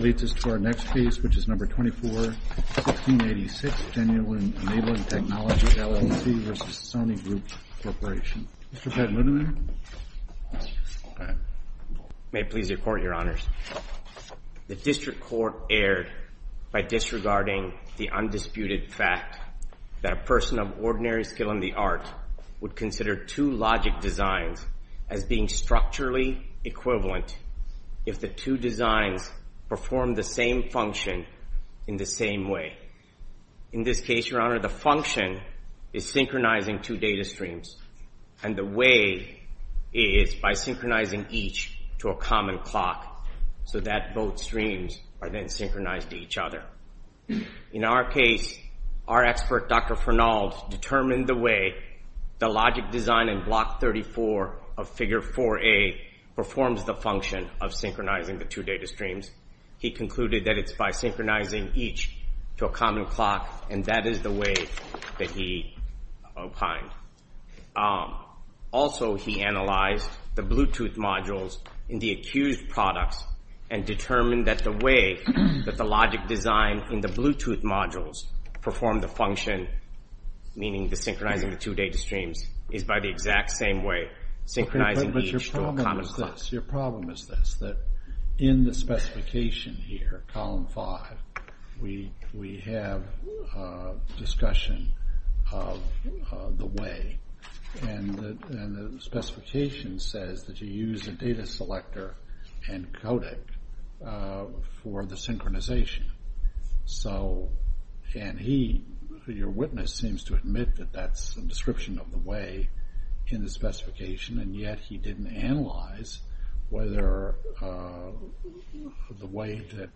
leads us to our next piece, which is number 24, 1686, Genuine Enabling Technology LLC v. Sony Group Corporation. Mr. Pat Ludemann. May it please the Court, Your Honors. The District Court erred by disregarding the undisputed fact that a person of ordinary skill in the art would consider two logic designs as being structurally equivalent if the two designs perform the same function in the same way. In this case, Your Honor, the function is synchronizing two data streams, and the way is by synchronizing each to a common clock so that both streams are then synchronized to each other. In our case, our expert, Dr. Fernald, determined the way the logic design in Block 34 of Figure 4A performs the function of synchronizing the two data streams. He concluded that it's by synchronizing each to a common clock, and that is the way that he opined. Also, he analyzed the Bluetooth modules in the accused products and determined that the way that the logic design in the Bluetooth modules performed the function, meaning the synchronizing of the two data streams, is by the exact same way, synchronizing each to a common clock. Your problem is this, that in the specification here, Column 5, we have discussion of the way, and the specification says that you use a data selector and code it for the synchronization. So, and he, your witness, seems to admit that that's a description of the way in the specification, and yet he didn't analyze whether the way that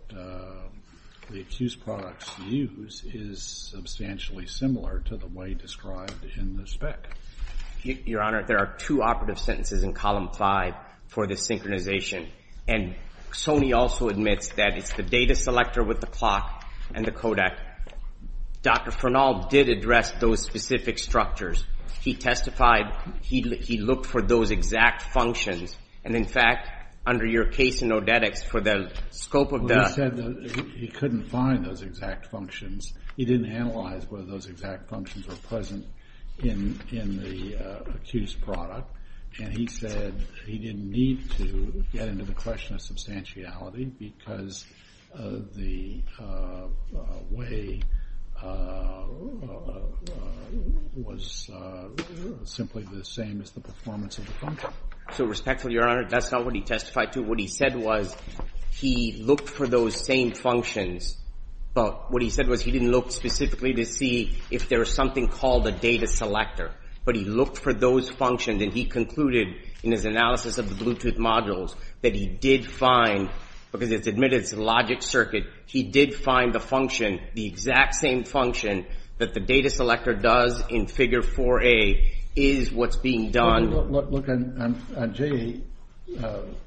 the accused products use is substantially similar to the way described in the spec. Your Honor, there are two operative sentences in Column 5 for the synchronization, and Sony also admits that it's the data selector with the clock and the codec. Dr. Fernald did address those specific structures. He testified, he looked for those exact functions, and in fact, under your case in Odetics, for the scope of the Well, he said that he couldn't find those exact functions. He didn't analyze whether those exact functions were present in the accused product, and he said he didn't need to get into the question of substantiality because the way was simply the same as the performance of the function. So respectfully, your Honor, that's not what he testified to. What he said was he looked for those same functions, but what he said was he didn't look specifically to see if there was something called a data selector. But he looked for those functions, and he concluded in his analysis of the Bluetooth modules that he did find, because it's admitted it's a logic circuit, he did find the function, the exact same function that the data selector does in Figure 4A is what's being done If you look at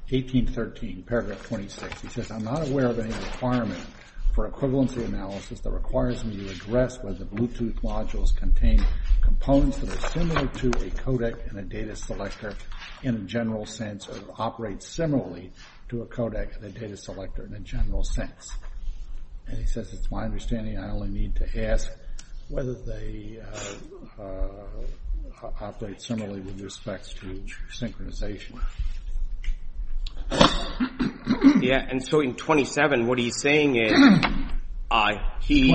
J1813, paragraph 26, he says, I'm not aware of any requirement for equivalency analysis that requires me to address whether Bluetooth modules contain components that are similar to a codec and a data selector in a general sense, or operate similarly to a codec and a data selector in a general sense. And he says it's my understanding I only need to ask whether they operate similarly with respect to synchronization. Yeah, and so in 27, what he's saying is, he...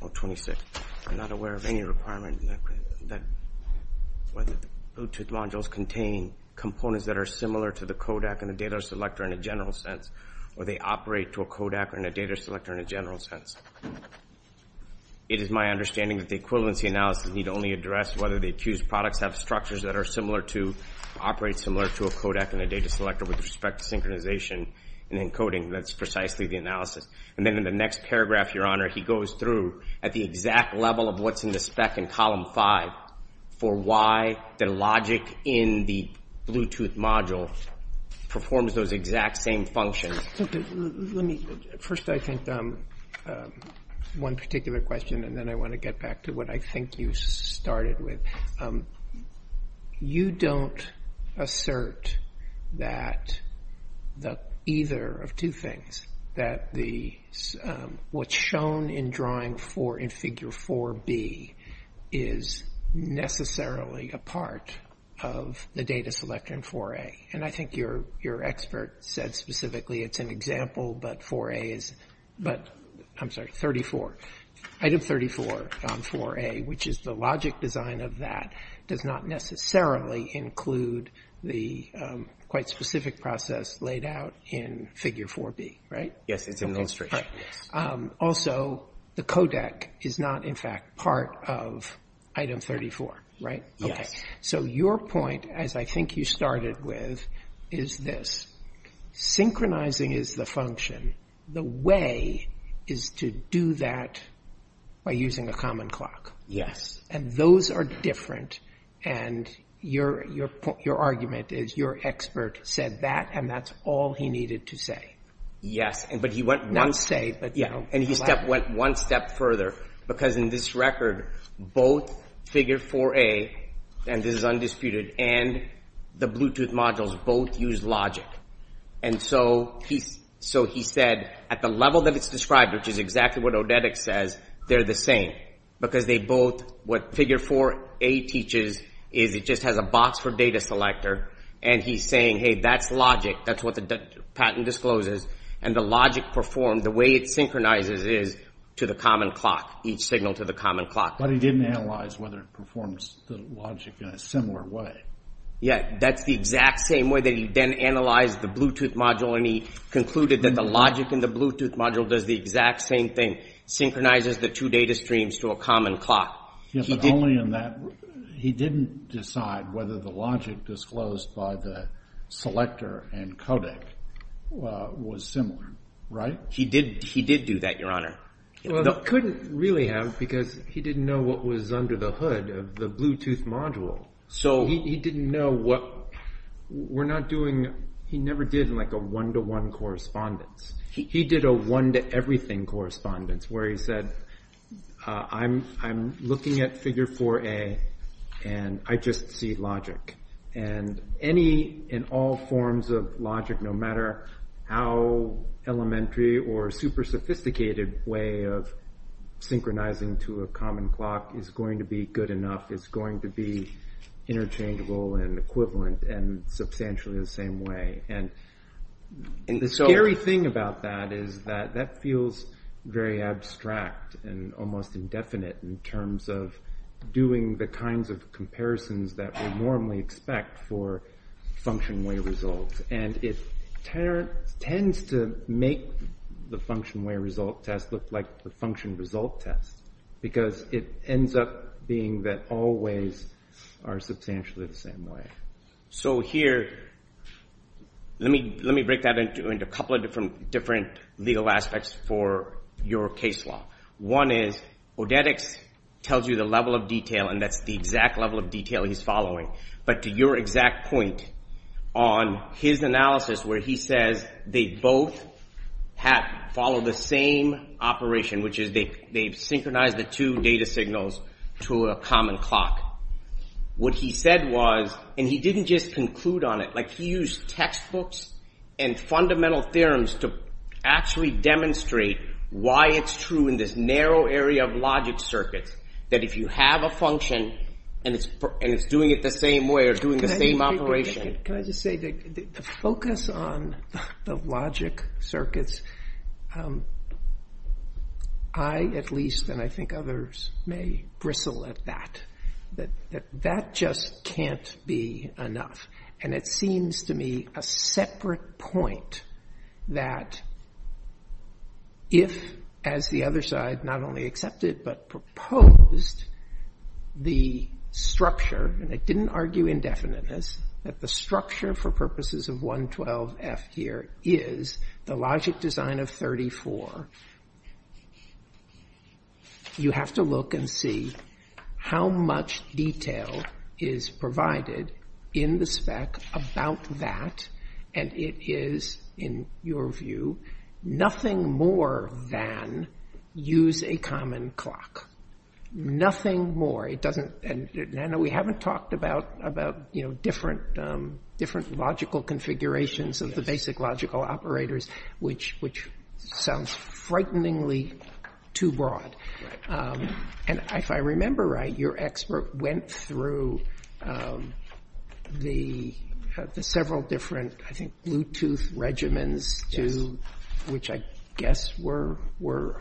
Oh, 26. I'm not aware of any requirement that Bluetooth modules contain components that are similar to the codec and the data selector in a general sense, or they operate to a codec and a data selector in a general sense. It is my understanding that the equivalency analysis need only address whether the accused products have structures that are similar to, operate similar to a codec and a data selector with respect to synchronization and encoding, that's precisely the analysis. And then in the next paragraph, Your Honor, he goes through at the exact level of what's in the spec in column 5 for why the logic in the Bluetooth module performs those exact same functions. Let me, first I think one particular question and then I want to get back to what I think you started with. You don't assert that either of two things, that what's shown in drawing in figure 4B is necessarily a part of the data selector in 4A. And I think your expert said specifically it's an example, but 4A is, but I'm sorry, 34. Item 34 on 4A, which is the logic design of that, does not necessarily include the quite specific process laid out in figure 4B, right? Yes, it's an illustration. Also, the codec is not in fact part of item 34, right? So your point, as I think you started with, is this. Synchronizing is the function. The way is to do that by using a common clock. Yes. And those are different and your argument is your expert said that and that's all he needed to say. Yes, but he went one step further because in this record, both figure 4A, and this is undisputed, and the Bluetooth modules both use logic. And so he said at the level that it's described, which is exactly what Odedic says, they're the same because they both, what figure 4A teaches is it just has a box for data selector and he's saying, hey, that's logic. That's what the patent discloses and the logic performed, the way it synchronizes is to the common clock, each signal to the common clock. But he didn't analyze whether it performs the logic in a similar way. Yes, that's the exact same way that he then analyzed the Bluetooth module and he concluded that the logic in the Bluetooth module does the exact same thing, synchronizes the two data streams to a common clock. Yes, but only in that he didn't decide whether the logic disclosed by the selector and codec was similar, right? He did do that, your honor. Well, he couldn't really have because he didn't know what was under the hood of the Bluetooth module. He didn't know what, we're not doing, he never did like a one-to-one correspondence. He did a one-to-everything correspondence where he said, I'm looking at figure 4A and I just see logic. And any and all forms of logic, no matter how elementary or super sophisticated way of synchronizing to a common clock is going to be good enough, is going to be interchangeable and equivalent and substantially the same way. And the scary thing about that is that that feels very abstract and almost indefinite in terms of doing the kinds of comparisons that we normally expect for function-way results. And it tends to make the function-way result test look like the function result test because it ends up being that all ways are substantially the same way. So here, let me break that into a couple of different legal aspects for your case law. One is, Odetics tells you the level of detail and that's the exact level of detail he's following. But to your exact point on his analysis where he says they both follow the same operation, which is they've synchronized the two data signals to a common clock. What he said was, and he didn't just conclude on it, he used textbooks and fundamental theorems to actually demonstrate why it's true in this narrow area of logic circuits that if you have a function and it's doing it the same way or doing the same operation. Can I just say that the focus on the logic circuits, I at least and I think others may bristle at that, that that just can't be enough. And it seems to me a separate point that if, as the other side not only accepted but proposed, the structure, and I didn't argue indefiniteness, that the structure for purposes of 112F here is the logic design of 34. You have to look and see how much detail is provided in the spec about that and it is, in your view, nothing more than use a common clock. Nothing more. We haven't talked about different logical configurations of the basic logical operators, which sounds frighteningly too broad. And if I remember right, your expert went through the several different, I think, Bluetooth regimens, which I guess were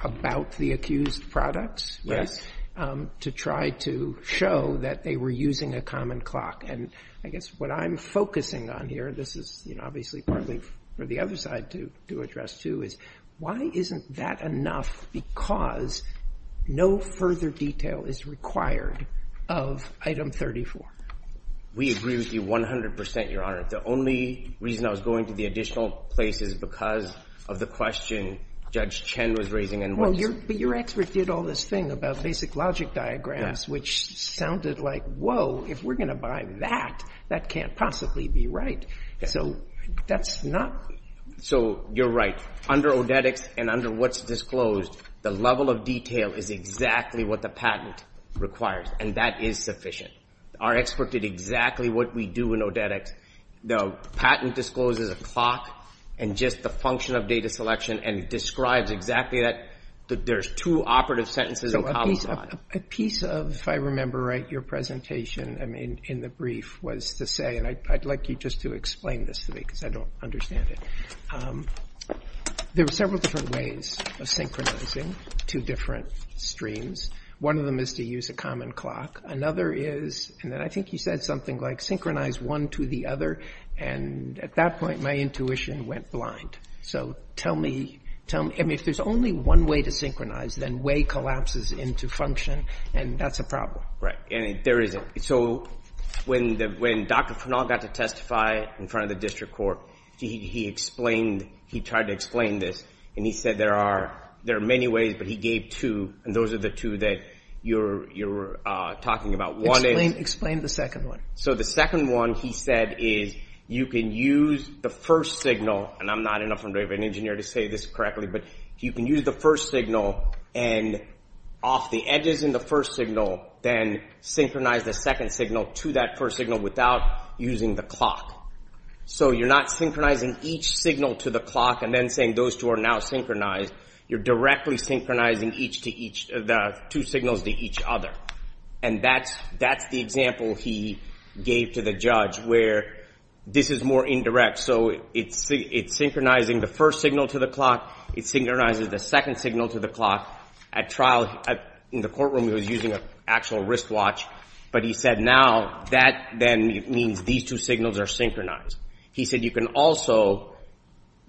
about the accused products, to try to show that they were using a common clock. And I guess what I'm focusing on here, this is obviously partly for the other side to address too, is why isn't that enough because no further detail is required of item 34? We agree with you 100%, Your Honor. The only reason I was going to the additional place is because of the question Judge Chen was raising. But your expert did all this thing about basic logic diagrams, which sounded like, whoa, if we're going to buy that, that can't possibly be right. So that's not. So you're right. Under Odetics and under what's disclosed, the level of detail is exactly what the patent requires, and that is sufficient. Our expert did exactly what we do in Odetics. The patent discloses a clock and just the function of data selection, and it describes exactly that. There's two operative sentences. A piece of, if I remember right, your presentation in the brief was to say, and I'd like you just to explain this to me because I don't understand it. There were several different ways of synchronizing two different streams. One of them is to use a common clock. Another is, and then I think you said something like synchronize one to the other. And at that point, my intuition went blind. So tell me, if there's only one way to synchronize, then way collapses into function, and that's a problem. And there isn't. So when Dr. Frenal got to testify in front of the district court, he explained, he tried to explain this, and he said there are many ways, and those are the two that you're talking about. Explain the second one. So the second one he said is you can use the first signal, and I'm not enough of an engineer to say this correctly, but you can use the first signal and off the edges in the first signal, then synchronize the second signal to that first signal without using the clock. So you're not synchronizing each signal to the clock and then saying those two are now synchronized. You're directly synchronizing the two signals to each other. And that's the example he gave to the judge where this is more indirect. So it's synchronizing the first signal to the clock. It synchronizes the second signal to the clock. At trial, in the courtroom, he was using an actual wristwatch, but he said now that then means these two signals are synchronized. He said you can also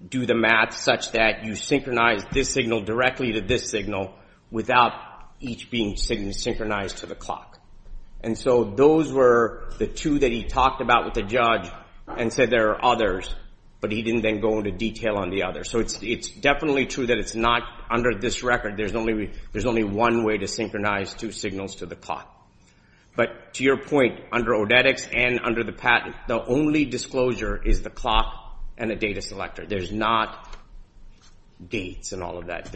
do the math such that you synchronize this signal directly to this signal without each being synchronized to the clock. And so those were the two that he talked about with the judge and said there are others, but he didn't then go into detail on the others. So it's definitely true that it's not under this record. There's only one way to synchronize two signals to the clock. But to your point, under odetics and under the patent, the only disclosure is the clock and the data selector. There's not dates and all of that.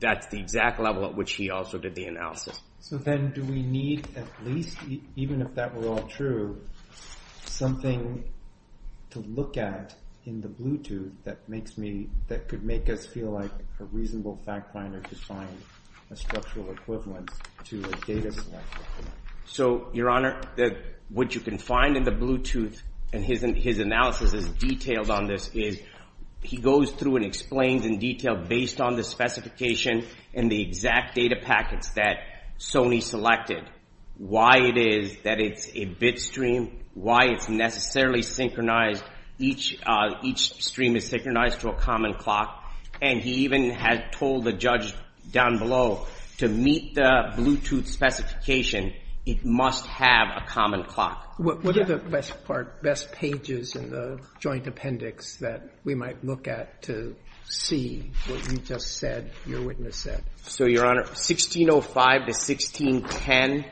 That's the exact level at which he also did the analysis. So then do we need at least, even if that were all true, something to look at in the Bluetooth that could make us feel like a reasonable fact finder to find a structural equivalent to a data selector? So, Your Honor, what you can find in the Bluetooth, and his analysis is detailed on this, is he goes through and explains in detail based on the specification and the exact data packets that Sony selected. Why it is that it's a bit stream, why it's necessarily synchronized. Each stream is synchronized to a common clock. And he even has told the judge down below, to meet the Bluetooth specification, it must have a common clock. What are the best part, best pages in the joint appendix that we might look at to see what you just said, your witness said? So, Your Honor, 1605 to 1610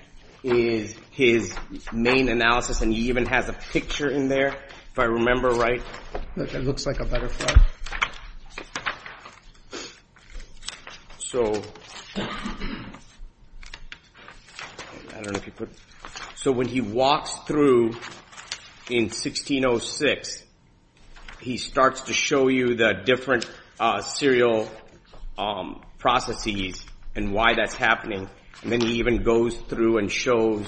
is his main analysis and he even has a picture in there, if I remember right. It looks like a butterfly. So, when he walks through in 1606, he starts to show you the different serial processes and why that's happening. And then he even goes through and shows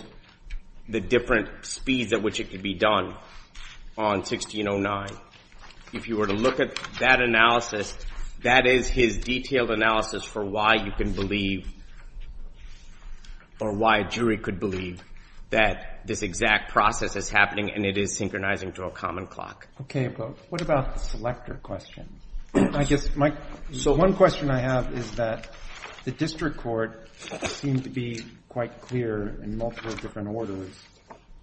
the different speeds at which it could be done on 1609. If you were to look at that analysis, that is his detailed analysis for why you can believe, or why a jury could believe, that this exact process is happening and it is synchronizing to a common clock. Okay, but what about the selector question? So, one question I have is that the district court seemed to be quite clear in multiple different orders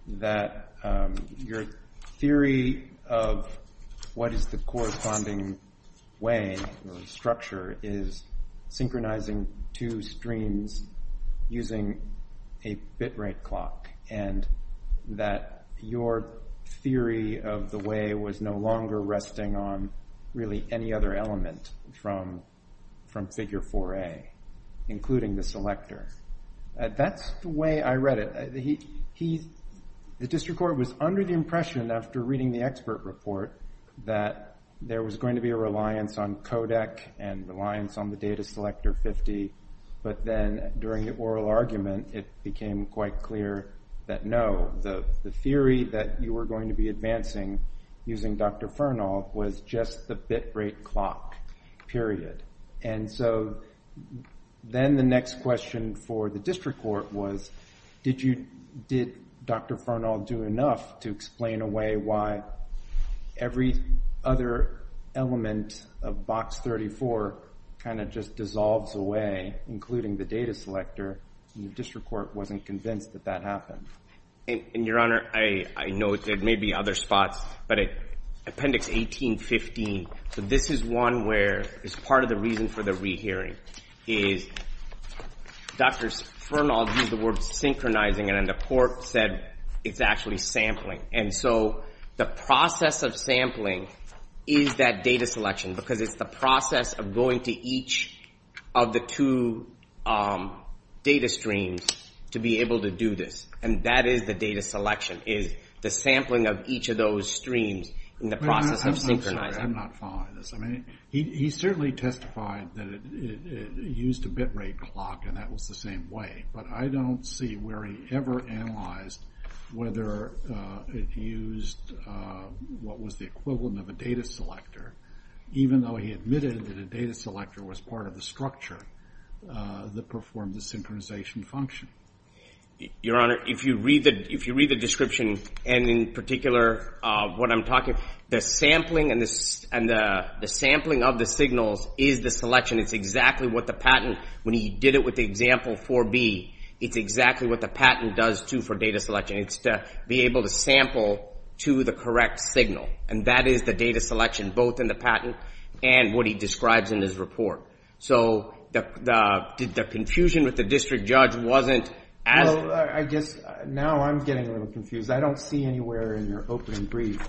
that your theory of what is the corresponding way or structure is synchronizing two streams using a bit rate clock. And that your theory of the way was no longer resting on really any other element from figure 4A, including the selector. That's the way I read it. The district court was under the impression, after reading the expert report, that there was going to be a reliance on codec and reliance on the data selector 50. But then, during the oral argument, it became quite clear that no, the theory that you were going to be advancing using Dr. Furnall was just the bit rate clock, period. And so, then the next question for the district court was, did Dr. Furnall do enough to explain away why every other element of box 34 kind of just dissolves away, including the data selector? And the district court wasn't convinced that that happened. And, Your Honor, I know there may be other spots, but Appendix 1815, this is one where it's part of the reason for the rehearing, is Dr. Furnall used the word synchronizing, and then the court said it's actually sampling. And so, the process of sampling is that data selection, because it's the process of going to each of the two data streams to be able to do this. And that is the data selection, is the sampling of each of those streams in the process of synchronizing. I'm not following this. I mean, he certainly testified that it used a bit rate clock, and that was the same way. But I don't see where he ever analyzed whether it used what was the equivalent of a data selector, even though he admitted that a data selector was part of the structure that performed the synchronization function. Your Honor, if you read the description, and in particular what I'm talking, the sampling of the signals is the selection. It's exactly what the patent, when he did it with the example 4B, it's exactly what the patent does, too, for data selection. It's to be able to sample to the correct signal. And that is the data selection, both in the patent and what he describes in his report. So did the confusion with the district judge wasn't as… Well, I guess now I'm getting a little confused. I don't see anywhere in your opening brief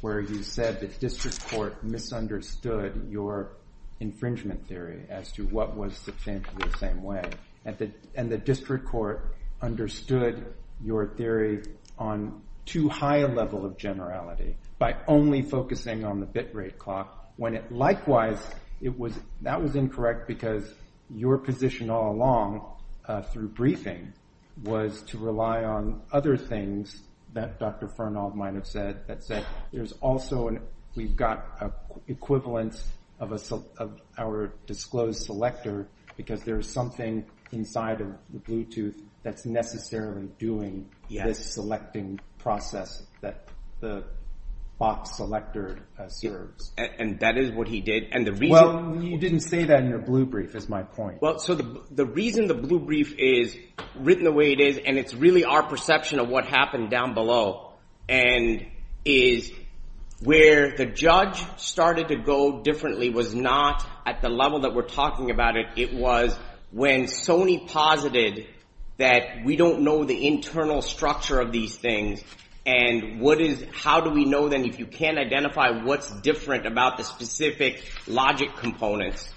where you said the district court misunderstood your infringement theory as to what was substantially the same way. And the district court understood your theory on too high a level of generality by only focusing on the bit rate clock. Likewise, that was incorrect because your position all along through briefing was to rely on other things that Dr. Fernald might have said. There's also – we've got an equivalent of our disclosed selector because there's something inside of Bluetooth that's necessarily doing this selecting process that the box selector serves. And that is what he did. Well, you didn't say that in your blue brief is my point. Well, so the reason the blue brief is written the way it is and it's really our perception of what happened down below and is where the judge started to go differently was not at the level that we're talking about it. It was when Sony posited that we don't know the internal structure of these things and what is – how do we know then if you can't identify what's different about the specific logic components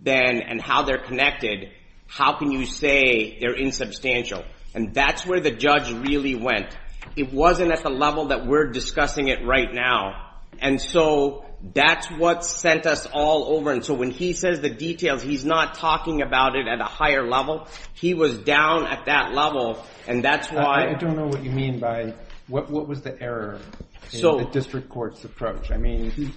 then and how they're connected, how can you say they're insubstantial? And that's where the judge really went. It wasn't at the level that we're discussing it right now. And so that's what sent us all over. And so when he says the details, he's not talking about it at a higher level. He was down at that level and that's why – I don't know what you mean by what was the error in the district court's approach. I mean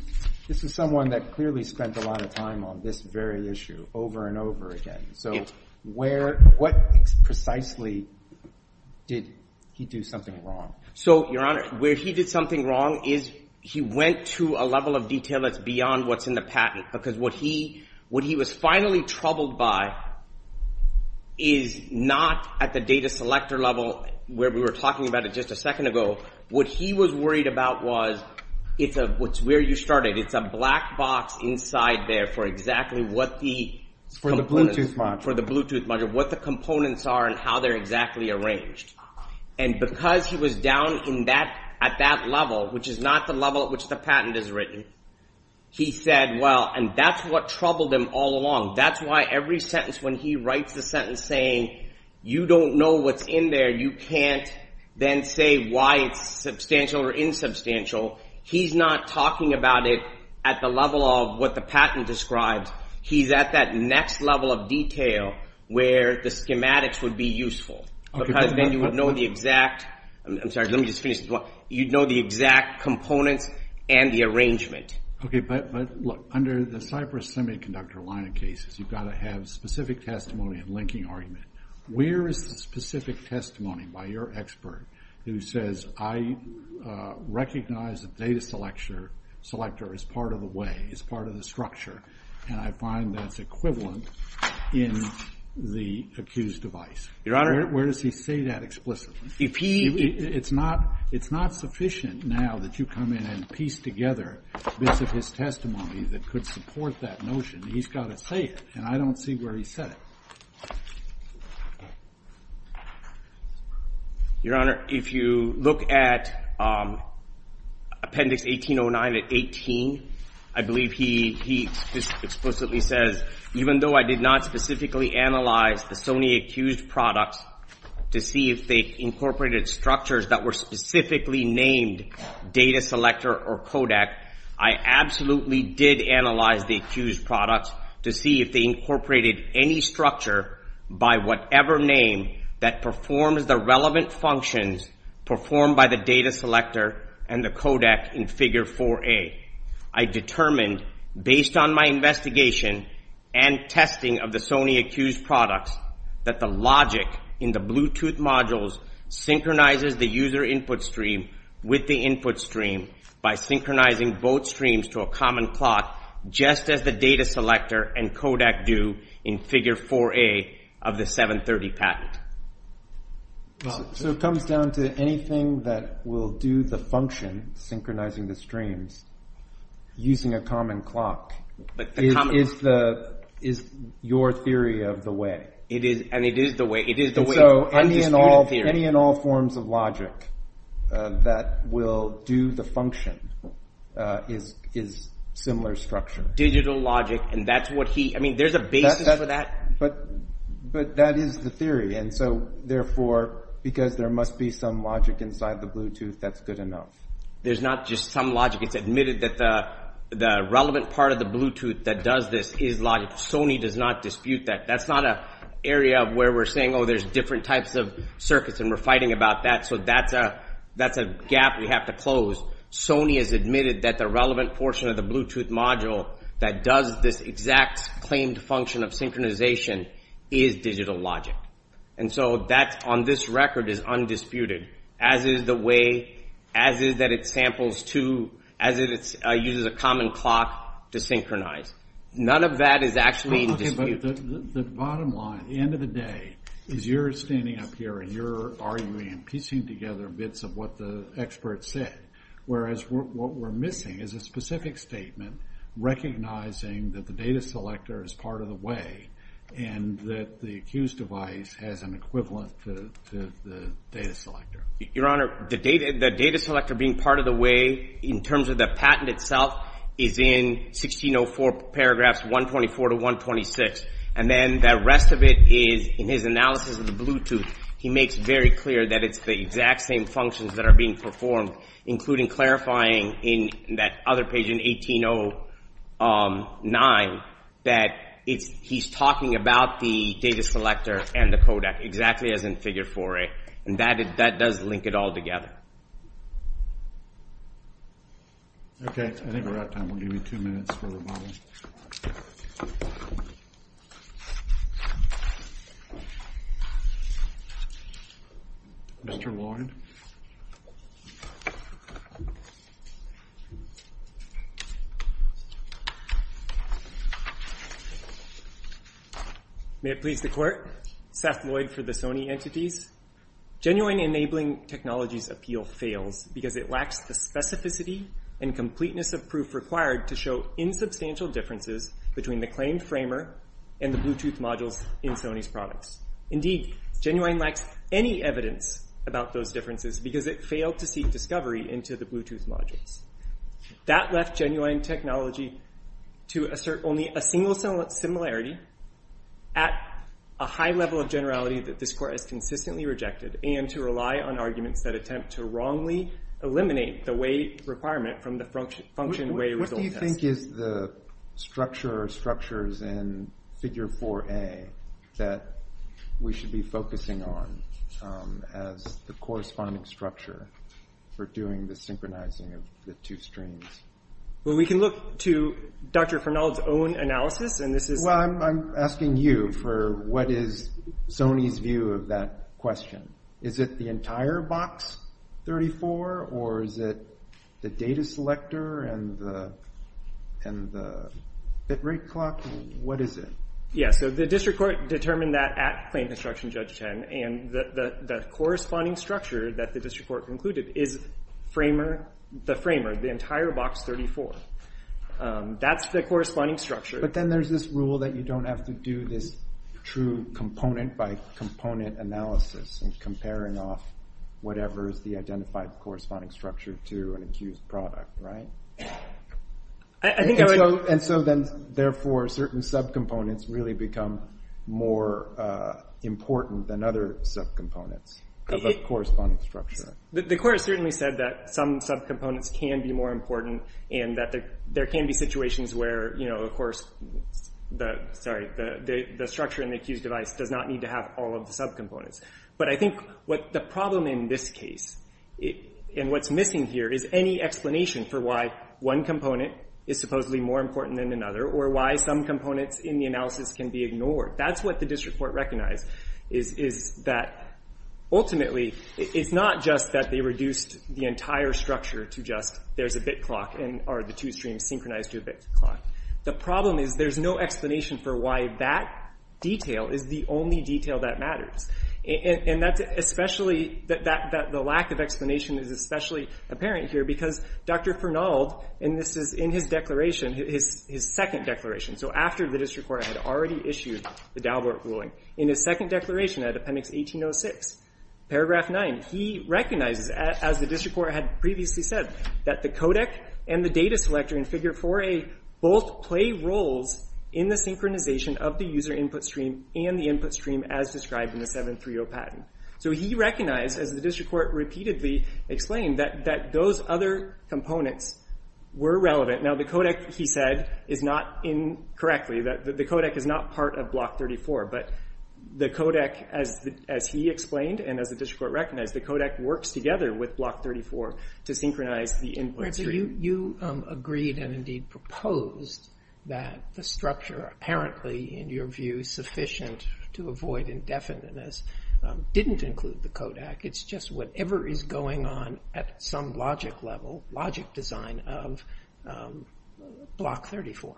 this is someone that clearly spent a lot of time on this very issue over and over again. So where – what precisely did he do something wrong? So, Your Honor, where he did something wrong is he went to a level of detail that's beyond what's in the patent because what he was finally troubled by is not at the data selector level where we were talking about it just a second ago. What he was worried about was it's a – where you started. It's a black box inside there for exactly what the – For the Bluetooth module. For the Bluetooth module, what the components are and how they're exactly arranged. And because he was down in that – at that level, which is not the level at which the patent is written, he said, well, and that's what troubled him all along. That's why every sentence when he writes the sentence saying you don't know what's in there, you can't then say why it's substantial or insubstantial. He's not talking about it at the level of what the patent describes. He's at that next level of detail where the schematics would be useful because then you would know the exact – I'm sorry, let me just finish this one. You'd know the exact components and the arrangement. Okay, but look, under the Cypress Semiconductor line of cases, you've got to have specific testimony and linking argument. Where is the specific testimony by your expert who says I recognize the data selector as part of the way, as part of the structure, and I find that's equivalent in the accused device? Your Honor? Where does he say that explicitly? If he – It's not – it's not sufficient now that you come in and piece together bits of his testimony that could support that notion. He's got to say it, and I don't see where he said it. Your Honor, if you look at Appendix 1809 at 18, I believe he explicitly says even though I did not specifically analyze the Sony accused products to see if they incorporated structures that were specifically named data selector or codec, I absolutely did analyze the accused products to see if they incorporated any structure by whatever name that performs the relevant functions performed by the data selector and the codec in Figure 4A. I determined based on my investigation and testing of the Sony accused products that the logic in the Bluetooth modules synchronizes the user input stream with the input stream by synchronizing both streams to a common plot just as the data selector and codec do in Figure 4A of the 730 patent. So it comes down to anything that will do the function synchronizing the streams using a common clock is your theory of the way. It is, and it is the way. It is the way. And so any and all forms of logic that will do the function is similar structure. Digital logic, and that's what he – I mean there's a basis for that. But that is the theory, and so therefore because there must be some logic inside the Bluetooth, that's good enough. There's not just some logic. It's admitted that the relevant part of the Bluetooth that does this is logic. Sony does not dispute that. That's not an area of where we're saying, oh, there's different types of circuits and we're fighting about that, so that's a gap we have to close. Sony has admitted that the relevant portion of the Bluetooth module that does this exact claimed function of synchronization is digital logic. And so that on this record is undisputed as is the way, as is that it samples to – as it uses a common clock to synchronize. None of that is actually disputed. The bottom line, the end of the day, is you're standing up here and you're arguing and piecing together bits of what the experts said, whereas what we're missing is a specific statement recognizing that the data selector is part of the way and that the accused device has an equivalent to the data selector. Your Honor, the data selector being part of the way in terms of the patent itself is in 1604 paragraphs 124 to 126. And then the rest of it is in his analysis of the Bluetooth. He makes very clear that it's the exact same functions that are being performed, including clarifying in that other page in 1809 that he's talking about the data selector and the codec exactly as in figure 4A. And that does link it all together. Okay, I think we're out of time. We'll give you two minutes for rebuttal. Mr. Lloyd. May it please the Court. Seth Lloyd for the Sony Entities. Genuine enabling technologies appeal fails because it lacks the specificity and completeness of proof required to show insubstantial differences between the claimed framer and the Bluetooth modules in Sony's products. Indeed, genuine lacks any evidence about those differences because it failed to seek discovery into the Bluetooth modules. That left genuine technology to assert only a single similarity at a high level of generality that this Court has consistently rejected and to rely on arguments that attempt to wrongly eliminate the way requirement from the function way result test. What do you think is the structure or structures in figure 4A that we should be focusing on as the corresponding structure for doing the synchronizing of the two streams? Well, we can look to Dr. Fernald's own analysis and this is... Well, I'm asking you for what is Sony's view of that question. Is it the entire box 34 or is it the data selector and the bit rate clock? What is it? Yeah, so the District Court determined that at Claim Construction Judge 10 and the corresponding structure that the District Court concluded is the framer, the entire box 34. That's the corresponding structure. But then there's this rule that you don't have to do this true component by component analysis and comparing off whatever is the identified corresponding structure to an accused product, right? I think I would... And so then, therefore, certain subcomponents really become more important than other subcomponents of a corresponding structure. The Court certainly said that some subcomponents can be more important and that there can be situations where, you know, of course, sorry, the structure in the accused device does not need to have all of the subcomponents. But I think what the problem in this case and what's missing here is any explanation for why one component is supposedly more important than another or why some components in the analysis can be ignored. That's what the District Court recognized is that ultimately, it's not just that they reduced the entire structure to just there's a bit clock and are the two streams synchronized to a bit clock. The problem is there's no explanation for why that detail is the only detail that matters. And that's especially that the lack of explanation is especially apparent here because Dr. Fernald, and this is in his declaration, his second declaration, so after the District Court had already issued the Dalbert ruling, in his second declaration at Appendix 1806, Paragraph 9, he recognizes, as the District Court had previously said, that the codec and the data selector in Figure 4a both play roles in the synchronization of the user input stream and the input stream as described in the 730 patent. So he recognized, as the District Court repeatedly explained, that those other components were relevant. Now, the codec, he said, is not in correctly, that the codec is not part of Block 34, but the codec, as he explained and as the District Court recognized, the codec works together with Block 34 to synchronize the input stream. You agreed and, indeed, proposed that the structure, apparently, in your view, sufficient to avoid indefiniteness, didn't include the codec. It's just whatever is going on at some logic level, logic design of Block 34.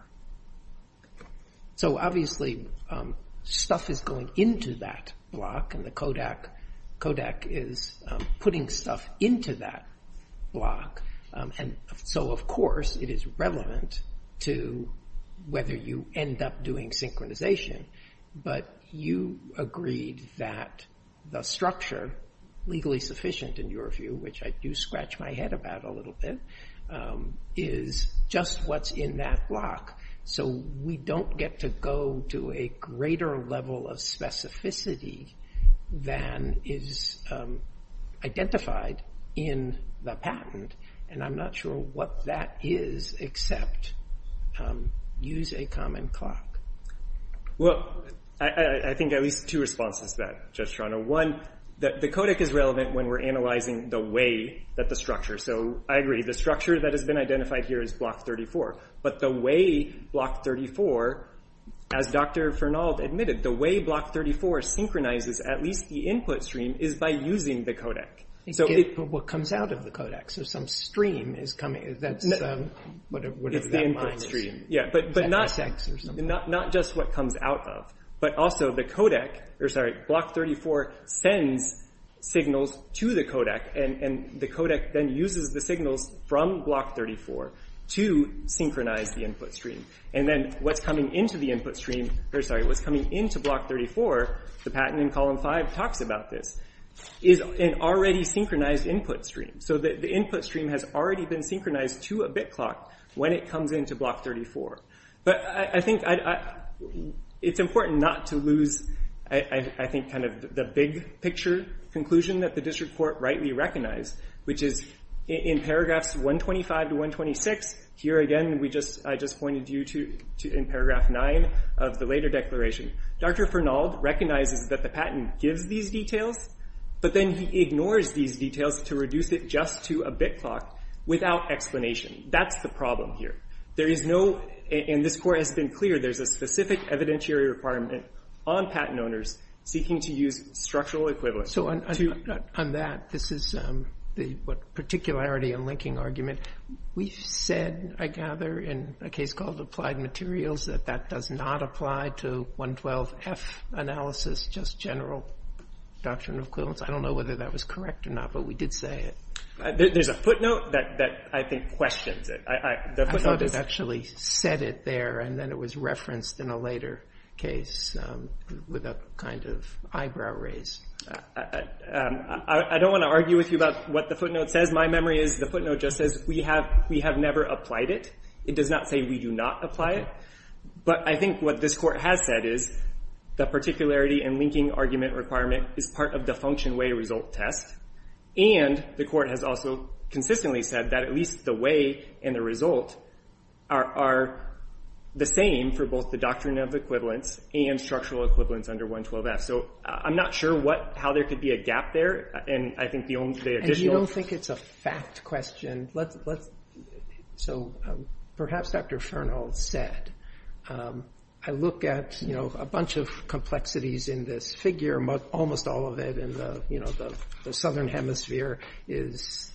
So, obviously, stuff is going into that block, and the codec is putting stuff into that block, and so, of course, it is relevant to whether you end up doing synchronization, but you agreed that the structure, legally sufficient, in your view, which I do scratch my head about a little bit, is just what's in that block. So we don't get to go to a greater level of specificity than is identified in the patent, and I'm not sure what that is except use a common clock. Well, I think at least two responses to that, Judge Strano. One, that the codec is relevant when we're analyzing the way that the structure, so I agree, the structure that has been identified here is Block 34, but the way Block 34, as Dr. Fernald admitted, the way Block 34 synchronizes at least the input stream is by using the codec. But what comes out of the codec, so some stream is coming. It's the input stream, yeah, but not just what comes out of, but also the codec, or sorry, Block 34 sends signals to the codec, and the codec then uses the signals from Block 34 to synchronize the input stream. And then what's coming into the input stream, or sorry, what's coming into Block 34, the patent in Column 5 talks about this, is an already synchronized input stream. So the input stream has already been synchronized to a bit clock when it comes into Block 34. But I think it's important not to lose, I think, kind of the big picture conclusion that the district court rightly recognized, which is in paragraphs 125 to 126, here again I just pointed you to in paragraph 9 of the later declaration. Dr. Fernald recognizes that the patent gives these details, but then he ignores these details to reduce it just to a bit clock without explanation. That's the problem here. There is no, and this court has been clear, there's a specific evidentiary requirement on patent owners seeking to use structural equivalence. So on that, this is the particularity and linking argument. We've said, I gather, in a case called Applied Materials, that that does not apply to 112F analysis, just general doctrine of equivalence. I don't know whether that was correct or not, but we did say it. There's a footnote that I think questions it. I thought it actually said it there, and then it was referenced in a later case with a kind of eyebrow raise. I don't want to argue with you about what the footnote says. My memory is the footnote just says we have never applied it. It does not say we do not apply it. But I think what this court has said is the particularity and linking argument requirement is part of the function-way-result test, and the court has also consistently said that at least the way and the result are the same for both the doctrine of equivalence and structural equivalence under 112F. So I'm not sure how there could be a gap there, and I think the only additional. And you don't think it's a fact question. So perhaps Dr. Fernald said, I look at a bunch of complexities in this figure, almost all of it in the southern hemisphere is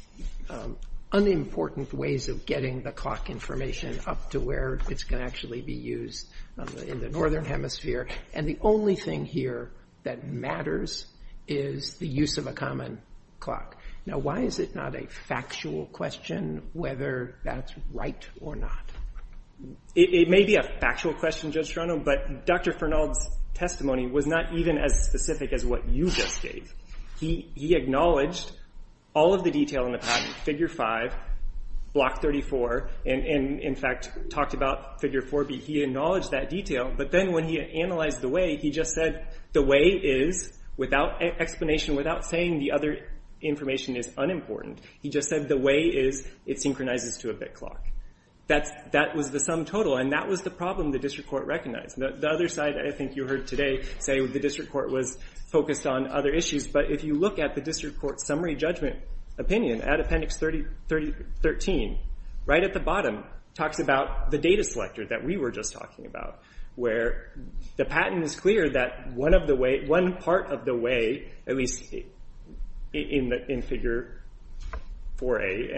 unimportant ways of getting the clock information up to where it's going to actually be used in the northern hemisphere. And the only thing here that matters is the use of a common clock. Now, why is it not a factual question whether that's right or not? It may be a factual question, Judge Strano, but Dr. Fernald's testimony was not even as specific as what you just gave. He acknowledged all of the detail in the patent, figure five, block 34, and in fact talked about figure 4B. He acknowledged that detail, but then when he analyzed the way, he just said the way is, without explanation, without saying the other information is unimportant, he just said the way is it synchronizes to a bit clock. That was the sum total, and that was the problem the district court recognized. The other side, I think you heard today say the district court was focused on other issues, but if you look at the district court's summary judgment opinion at appendix 13, right at the bottom talks about the data selector that we were just talking about, where the patent is clear that one of the way, one part of the way, at least in figure 4A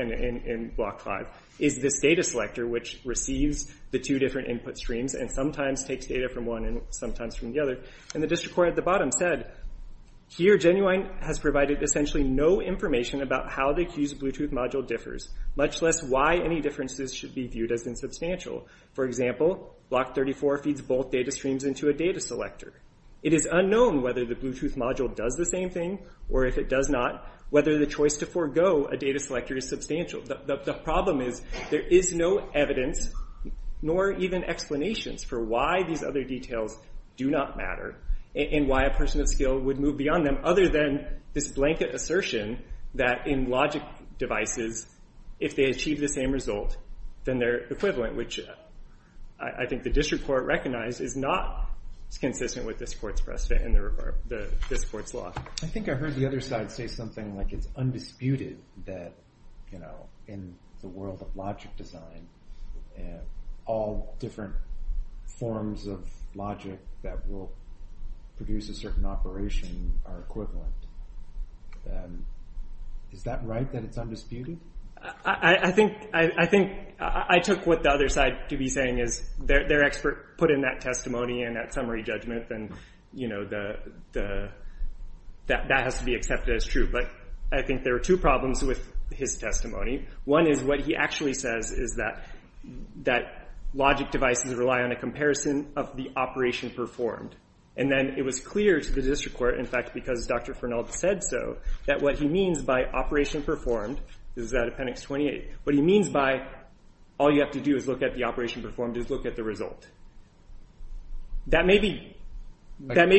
and block five is this data selector, which receives the two different input streams and sometimes takes data from one and sometimes from the other, and the district court at the bottom said, here Genuine has provided essentially no information about how the accused Bluetooth module differs, much less why any differences should be viewed as insubstantial. For example, block 34 feeds both data streams into a data selector. It is unknown whether the Bluetooth module does the same thing, or if it does not, whether the choice to forego a data selector is substantial. The problem is there is no evidence, nor even explanations, for why these other details do not matter, and why a person of skill would move beyond them, other than this blanket assertion that in logic devices, if they achieve the same result, then they're equivalent, which I think the district court recognized is not consistent with this court's precedent and this court's law. I think I heard the other side say something like it's undisputed that in the world of logic design, all different forms of logic that will produce a certain operation are equivalent. Is that right, that it's undisputed? I think I took what the other side to be saying, is their expert put in that testimony and that summary judgment, and that has to be accepted as true. But I think there are two problems with his testimony. One is what he actually says is that logic devices rely on a comparison of the operation performed. And then it was clear to the district court, in fact, because Dr. Fernald said so, that what he means by operation performed, this is out of appendix 28, what he means by all you have to do is look at the operation performed is look at the result. That may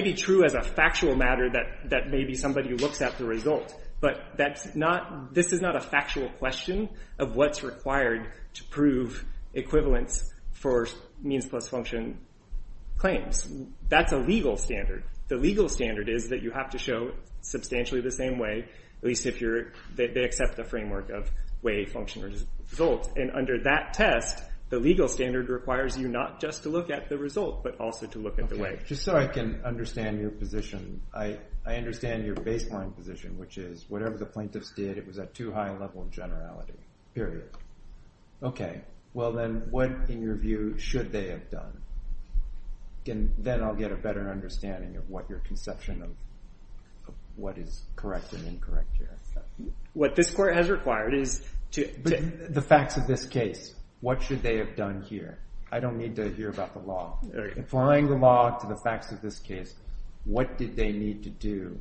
be true as a factual matter that maybe somebody looks at the result, but this is not a factual question of what's required to prove equivalence for means plus function claims. That's a legal standard. The legal standard is that you have to show substantially the same way, at least if they accept the framework of way function results. And under that test, the legal standard requires you not just to look at the result, but also to look at the way. Just so I can understand your position, I understand your baseline position, which is whatever the plaintiffs did, it was at too high a level of generality, period. Okay, well then what, in your view, should they have done? Then I'll get a better understanding of what your conception of what is correct and incorrect here. What this court has required is to- The facts of this case, what should they have done here? I don't need to hear about the law. Applying the law to the facts of this case, what did they need to do?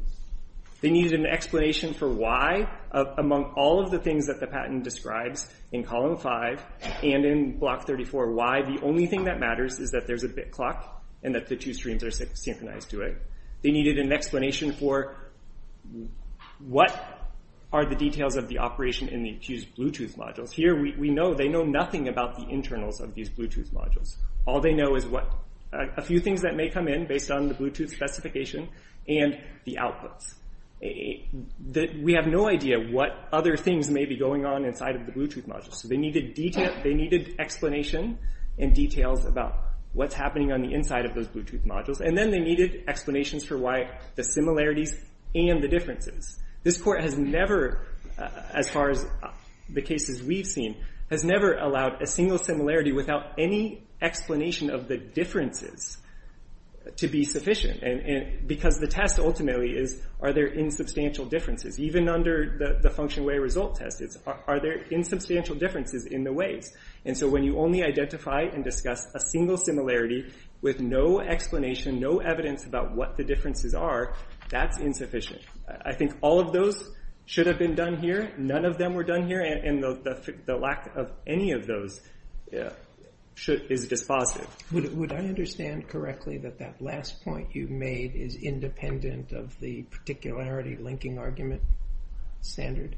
They needed an explanation for why, among all of the things that the patent describes in column 5 and in block 34, why the only thing that matters is that there's a bit clock and that the two streams are synchronized to it. They needed an explanation for what are the details of the operation in the accused Bluetooth modules. Here we know they know nothing about the internals of these Bluetooth modules. All they know is a few things that may come in based on the Bluetooth specification and the outputs. We have no idea what other things may be going on inside of the Bluetooth modules. They needed explanation and details about what's happening on the inside of those Bluetooth modules, and then they needed explanations for why the similarities and the differences. This court has never, as far as the cases we've seen, has never allowed a single similarity without any explanation of the differences to be sufficient because the test ultimately is are there insubstantial differences? Even under the function way result test, are there insubstantial differences in the ways? And so when you only identify and discuss a single similarity with no explanation, no evidence about what the differences are, that's insufficient. I think all of those should have been done here. None of them were done here, and the lack of any of those is dispositive. Would I understand correctly that that last point you made is independent of the particularity linking argument standard?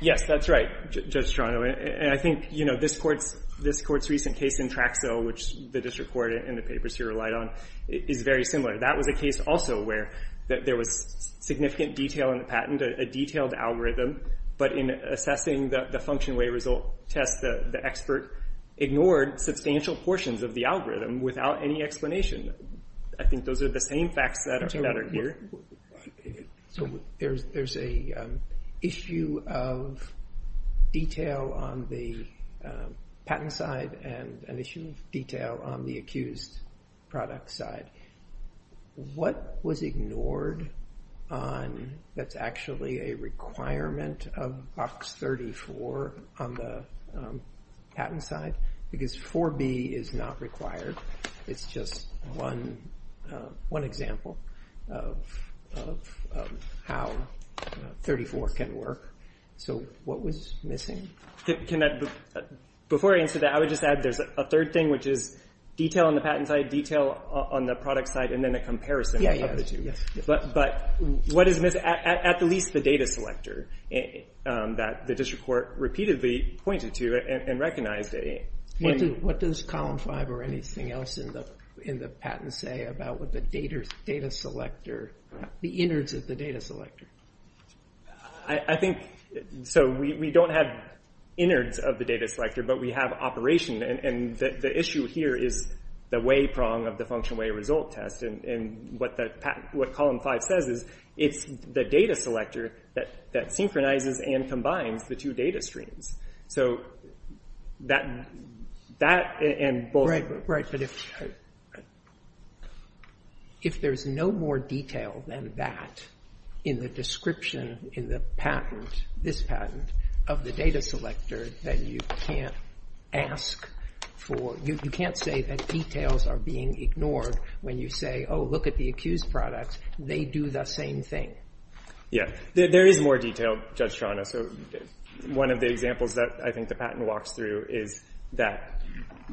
Yes, that's right, Judge Strano, and I think this court's recent case in Traxo, which the district court in the papers here relied on, is very similar. That was a case also where there was significant detail in the patent, a detailed algorithm, but in assessing the function way result test, the expert ignored substantial portions of the algorithm without any explanation. I think those are the same facts that are here. There's an issue of detail on the patent side and an issue of detail on the accused product side. What was ignored that's actually a requirement of Box 34 on the patent side? Because 4B is not required. It's just one example of how 34 can work. So what was missing? Before I answer that, I would just add there's a third thing, which is detail on the patent side, detail on the product side, and then a comparison of the two. But what is missing? At least the data selector that the district court repeatedly pointed to and recognized. What does Column 5 or anything else in the patent say about the innards of the data selector? I think we don't have innards of the data selector, but we have operation. And the issue here is the way prong of the function way result test. And what Column 5 says is it's the data selector that synchronizes and combines the two data streams. If there's no more detail than that in the description in this patent of the data selector, then you can't say that details are being ignored when you say, oh, look at the accused products. They do the same thing. Yeah. There is more detail, Judge Shana. One of the examples that I think the patent walks through is that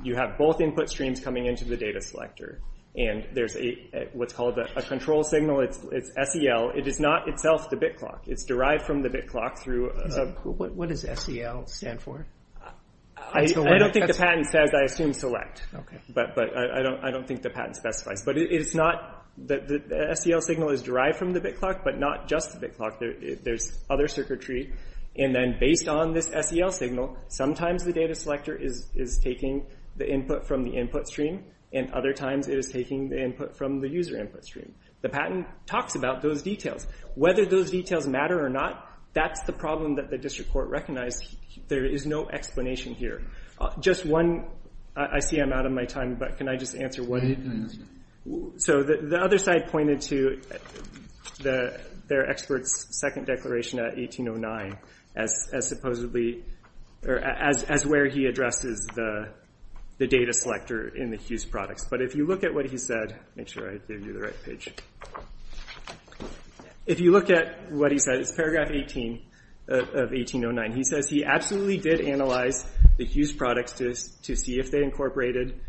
you have both input streams coming into the data selector. And there's what's called a control signal. It's SEL. It is not itself the bit clock. It's derived from the bit clock through a – What does SEL stand for? I don't think the patent says, I assume, select. Okay. But I don't think the patent specifies. But it's not – the SEL signal is derived from the bit clock, but not just the bit clock. There's other circuitry. And then based on this SEL signal, sometimes the data selector is taking the input from the input stream, and other times it is taking the input from the user input stream. The patent talks about those details. Whether those details matter or not, that's the problem that the district court recognized. There is no explanation here. Just one – I see I'm out of my time, but can I just answer one? So the other side pointed to their expert's second declaration at 1809 as supposedly – or as where he addresses the data selector in the Hughes products. But if you look at what he said – make sure I do the right page. If you look at what he said, it's paragraph 18 of 1809. He says he absolutely did analyze the Hughes products to see if they incorporated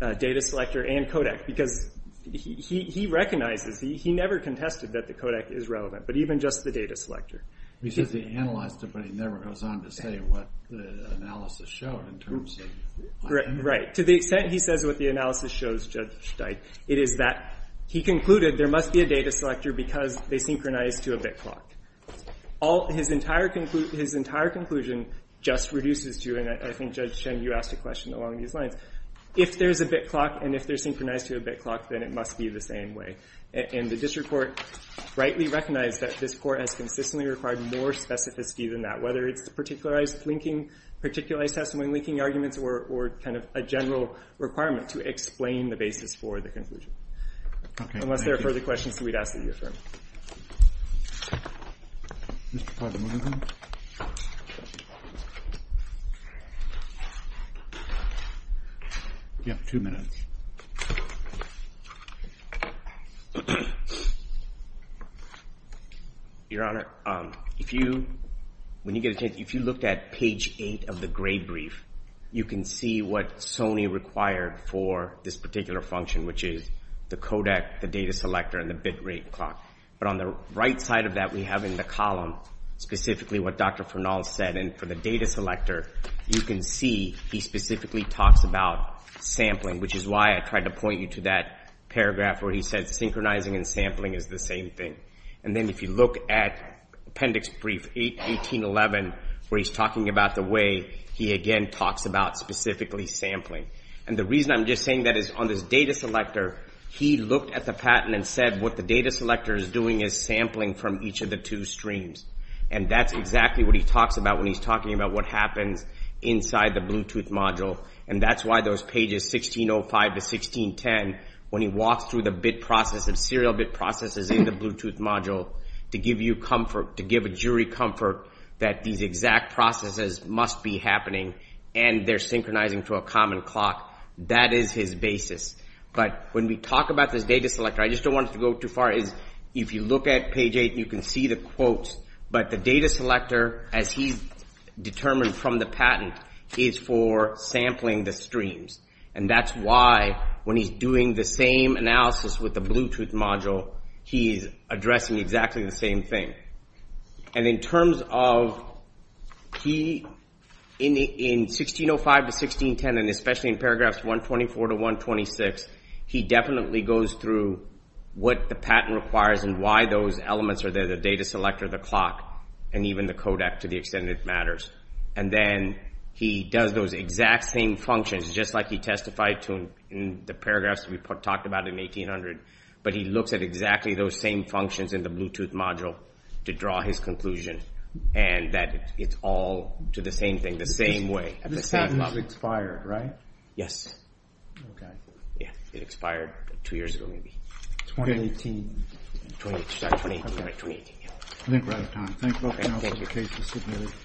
data selector and codec, because he recognizes – he never contested that the codec is relevant, but even just the data selector. He says he analyzed it, but he never goes on to say what the analysis showed in terms of – Right. To the extent he says what the analysis shows, Judge Steidt, it is that he concluded there must be a data selector because they synchronized to a bit clock. All – his entire conclusion just reduces to – and I think, Judge Shen, you asked a question along these lines. If there's a bit clock and if they're synchronized to a bit clock, then it must be the same way. And the district court rightly recognized that this court has consistently required more specificity than that, whether it's particularized linking – particularized testimony linking arguments or kind of a general requirement to explain the basis for the conclusion. Okay. Unless there are further questions, we'd ask that you affirm. Mr. Cardinali. You have two minutes. Your Honor, if you – when you get a chance, if you looked at page 8 of the grade brief, you can see what Sony required for this particular function, which is the codec, the data selector, and the bit rate clock. But on the right side of that, we have in the column specifically what Dr. Fernald said. And for the data selector, you can see he specifically talks about sampling, which is why I tried to point you to that paragraph where he said synchronizing and sampling is the same thing. And then if you look at appendix brief 1811, where he's talking about the way he again talks about specifically sampling. And the reason I'm just saying that is on this data selector, he looked at the patent and said what the data selector is doing is sampling from each of the two streams. And that's exactly what he talks about when he's talking about what happens inside the Bluetooth module. And that's why those pages 1605 to 1610, when he walks through the bit process, the serial bit processes in the Bluetooth module, to give you comfort, to give a jury comfort that these exact processes must be happening and they're synchronizing to a common clock, that is his basis. But when we talk about this data selector, I just don't want it to go too far, is if you look at page 8, you can see the quotes. But the data selector, as he's determined from the patent, is for sampling the streams. And that's why when he's doing the same analysis with the Bluetooth module, he's addressing exactly the same thing. And in terms of he, in 1605 to 1610, and especially in paragraphs 124 to 126, he definitely goes through what the patent requires and why those elements are there, the data selector, the clock, and even the codec to the extent it matters. And then he does those exact same functions, just like he testified to in the paragraphs we talked about in 1800. But he looks at exactly those same functions in the Bluetooth module to draw his conclusion and that it's all to the same thing, the same way. This patent expired, right? Yes. Okay. Yeah, it expired two years ago, maybe. 2018. 2018, right, 2018. I think we're out of time. Thank you. Okay, thank you.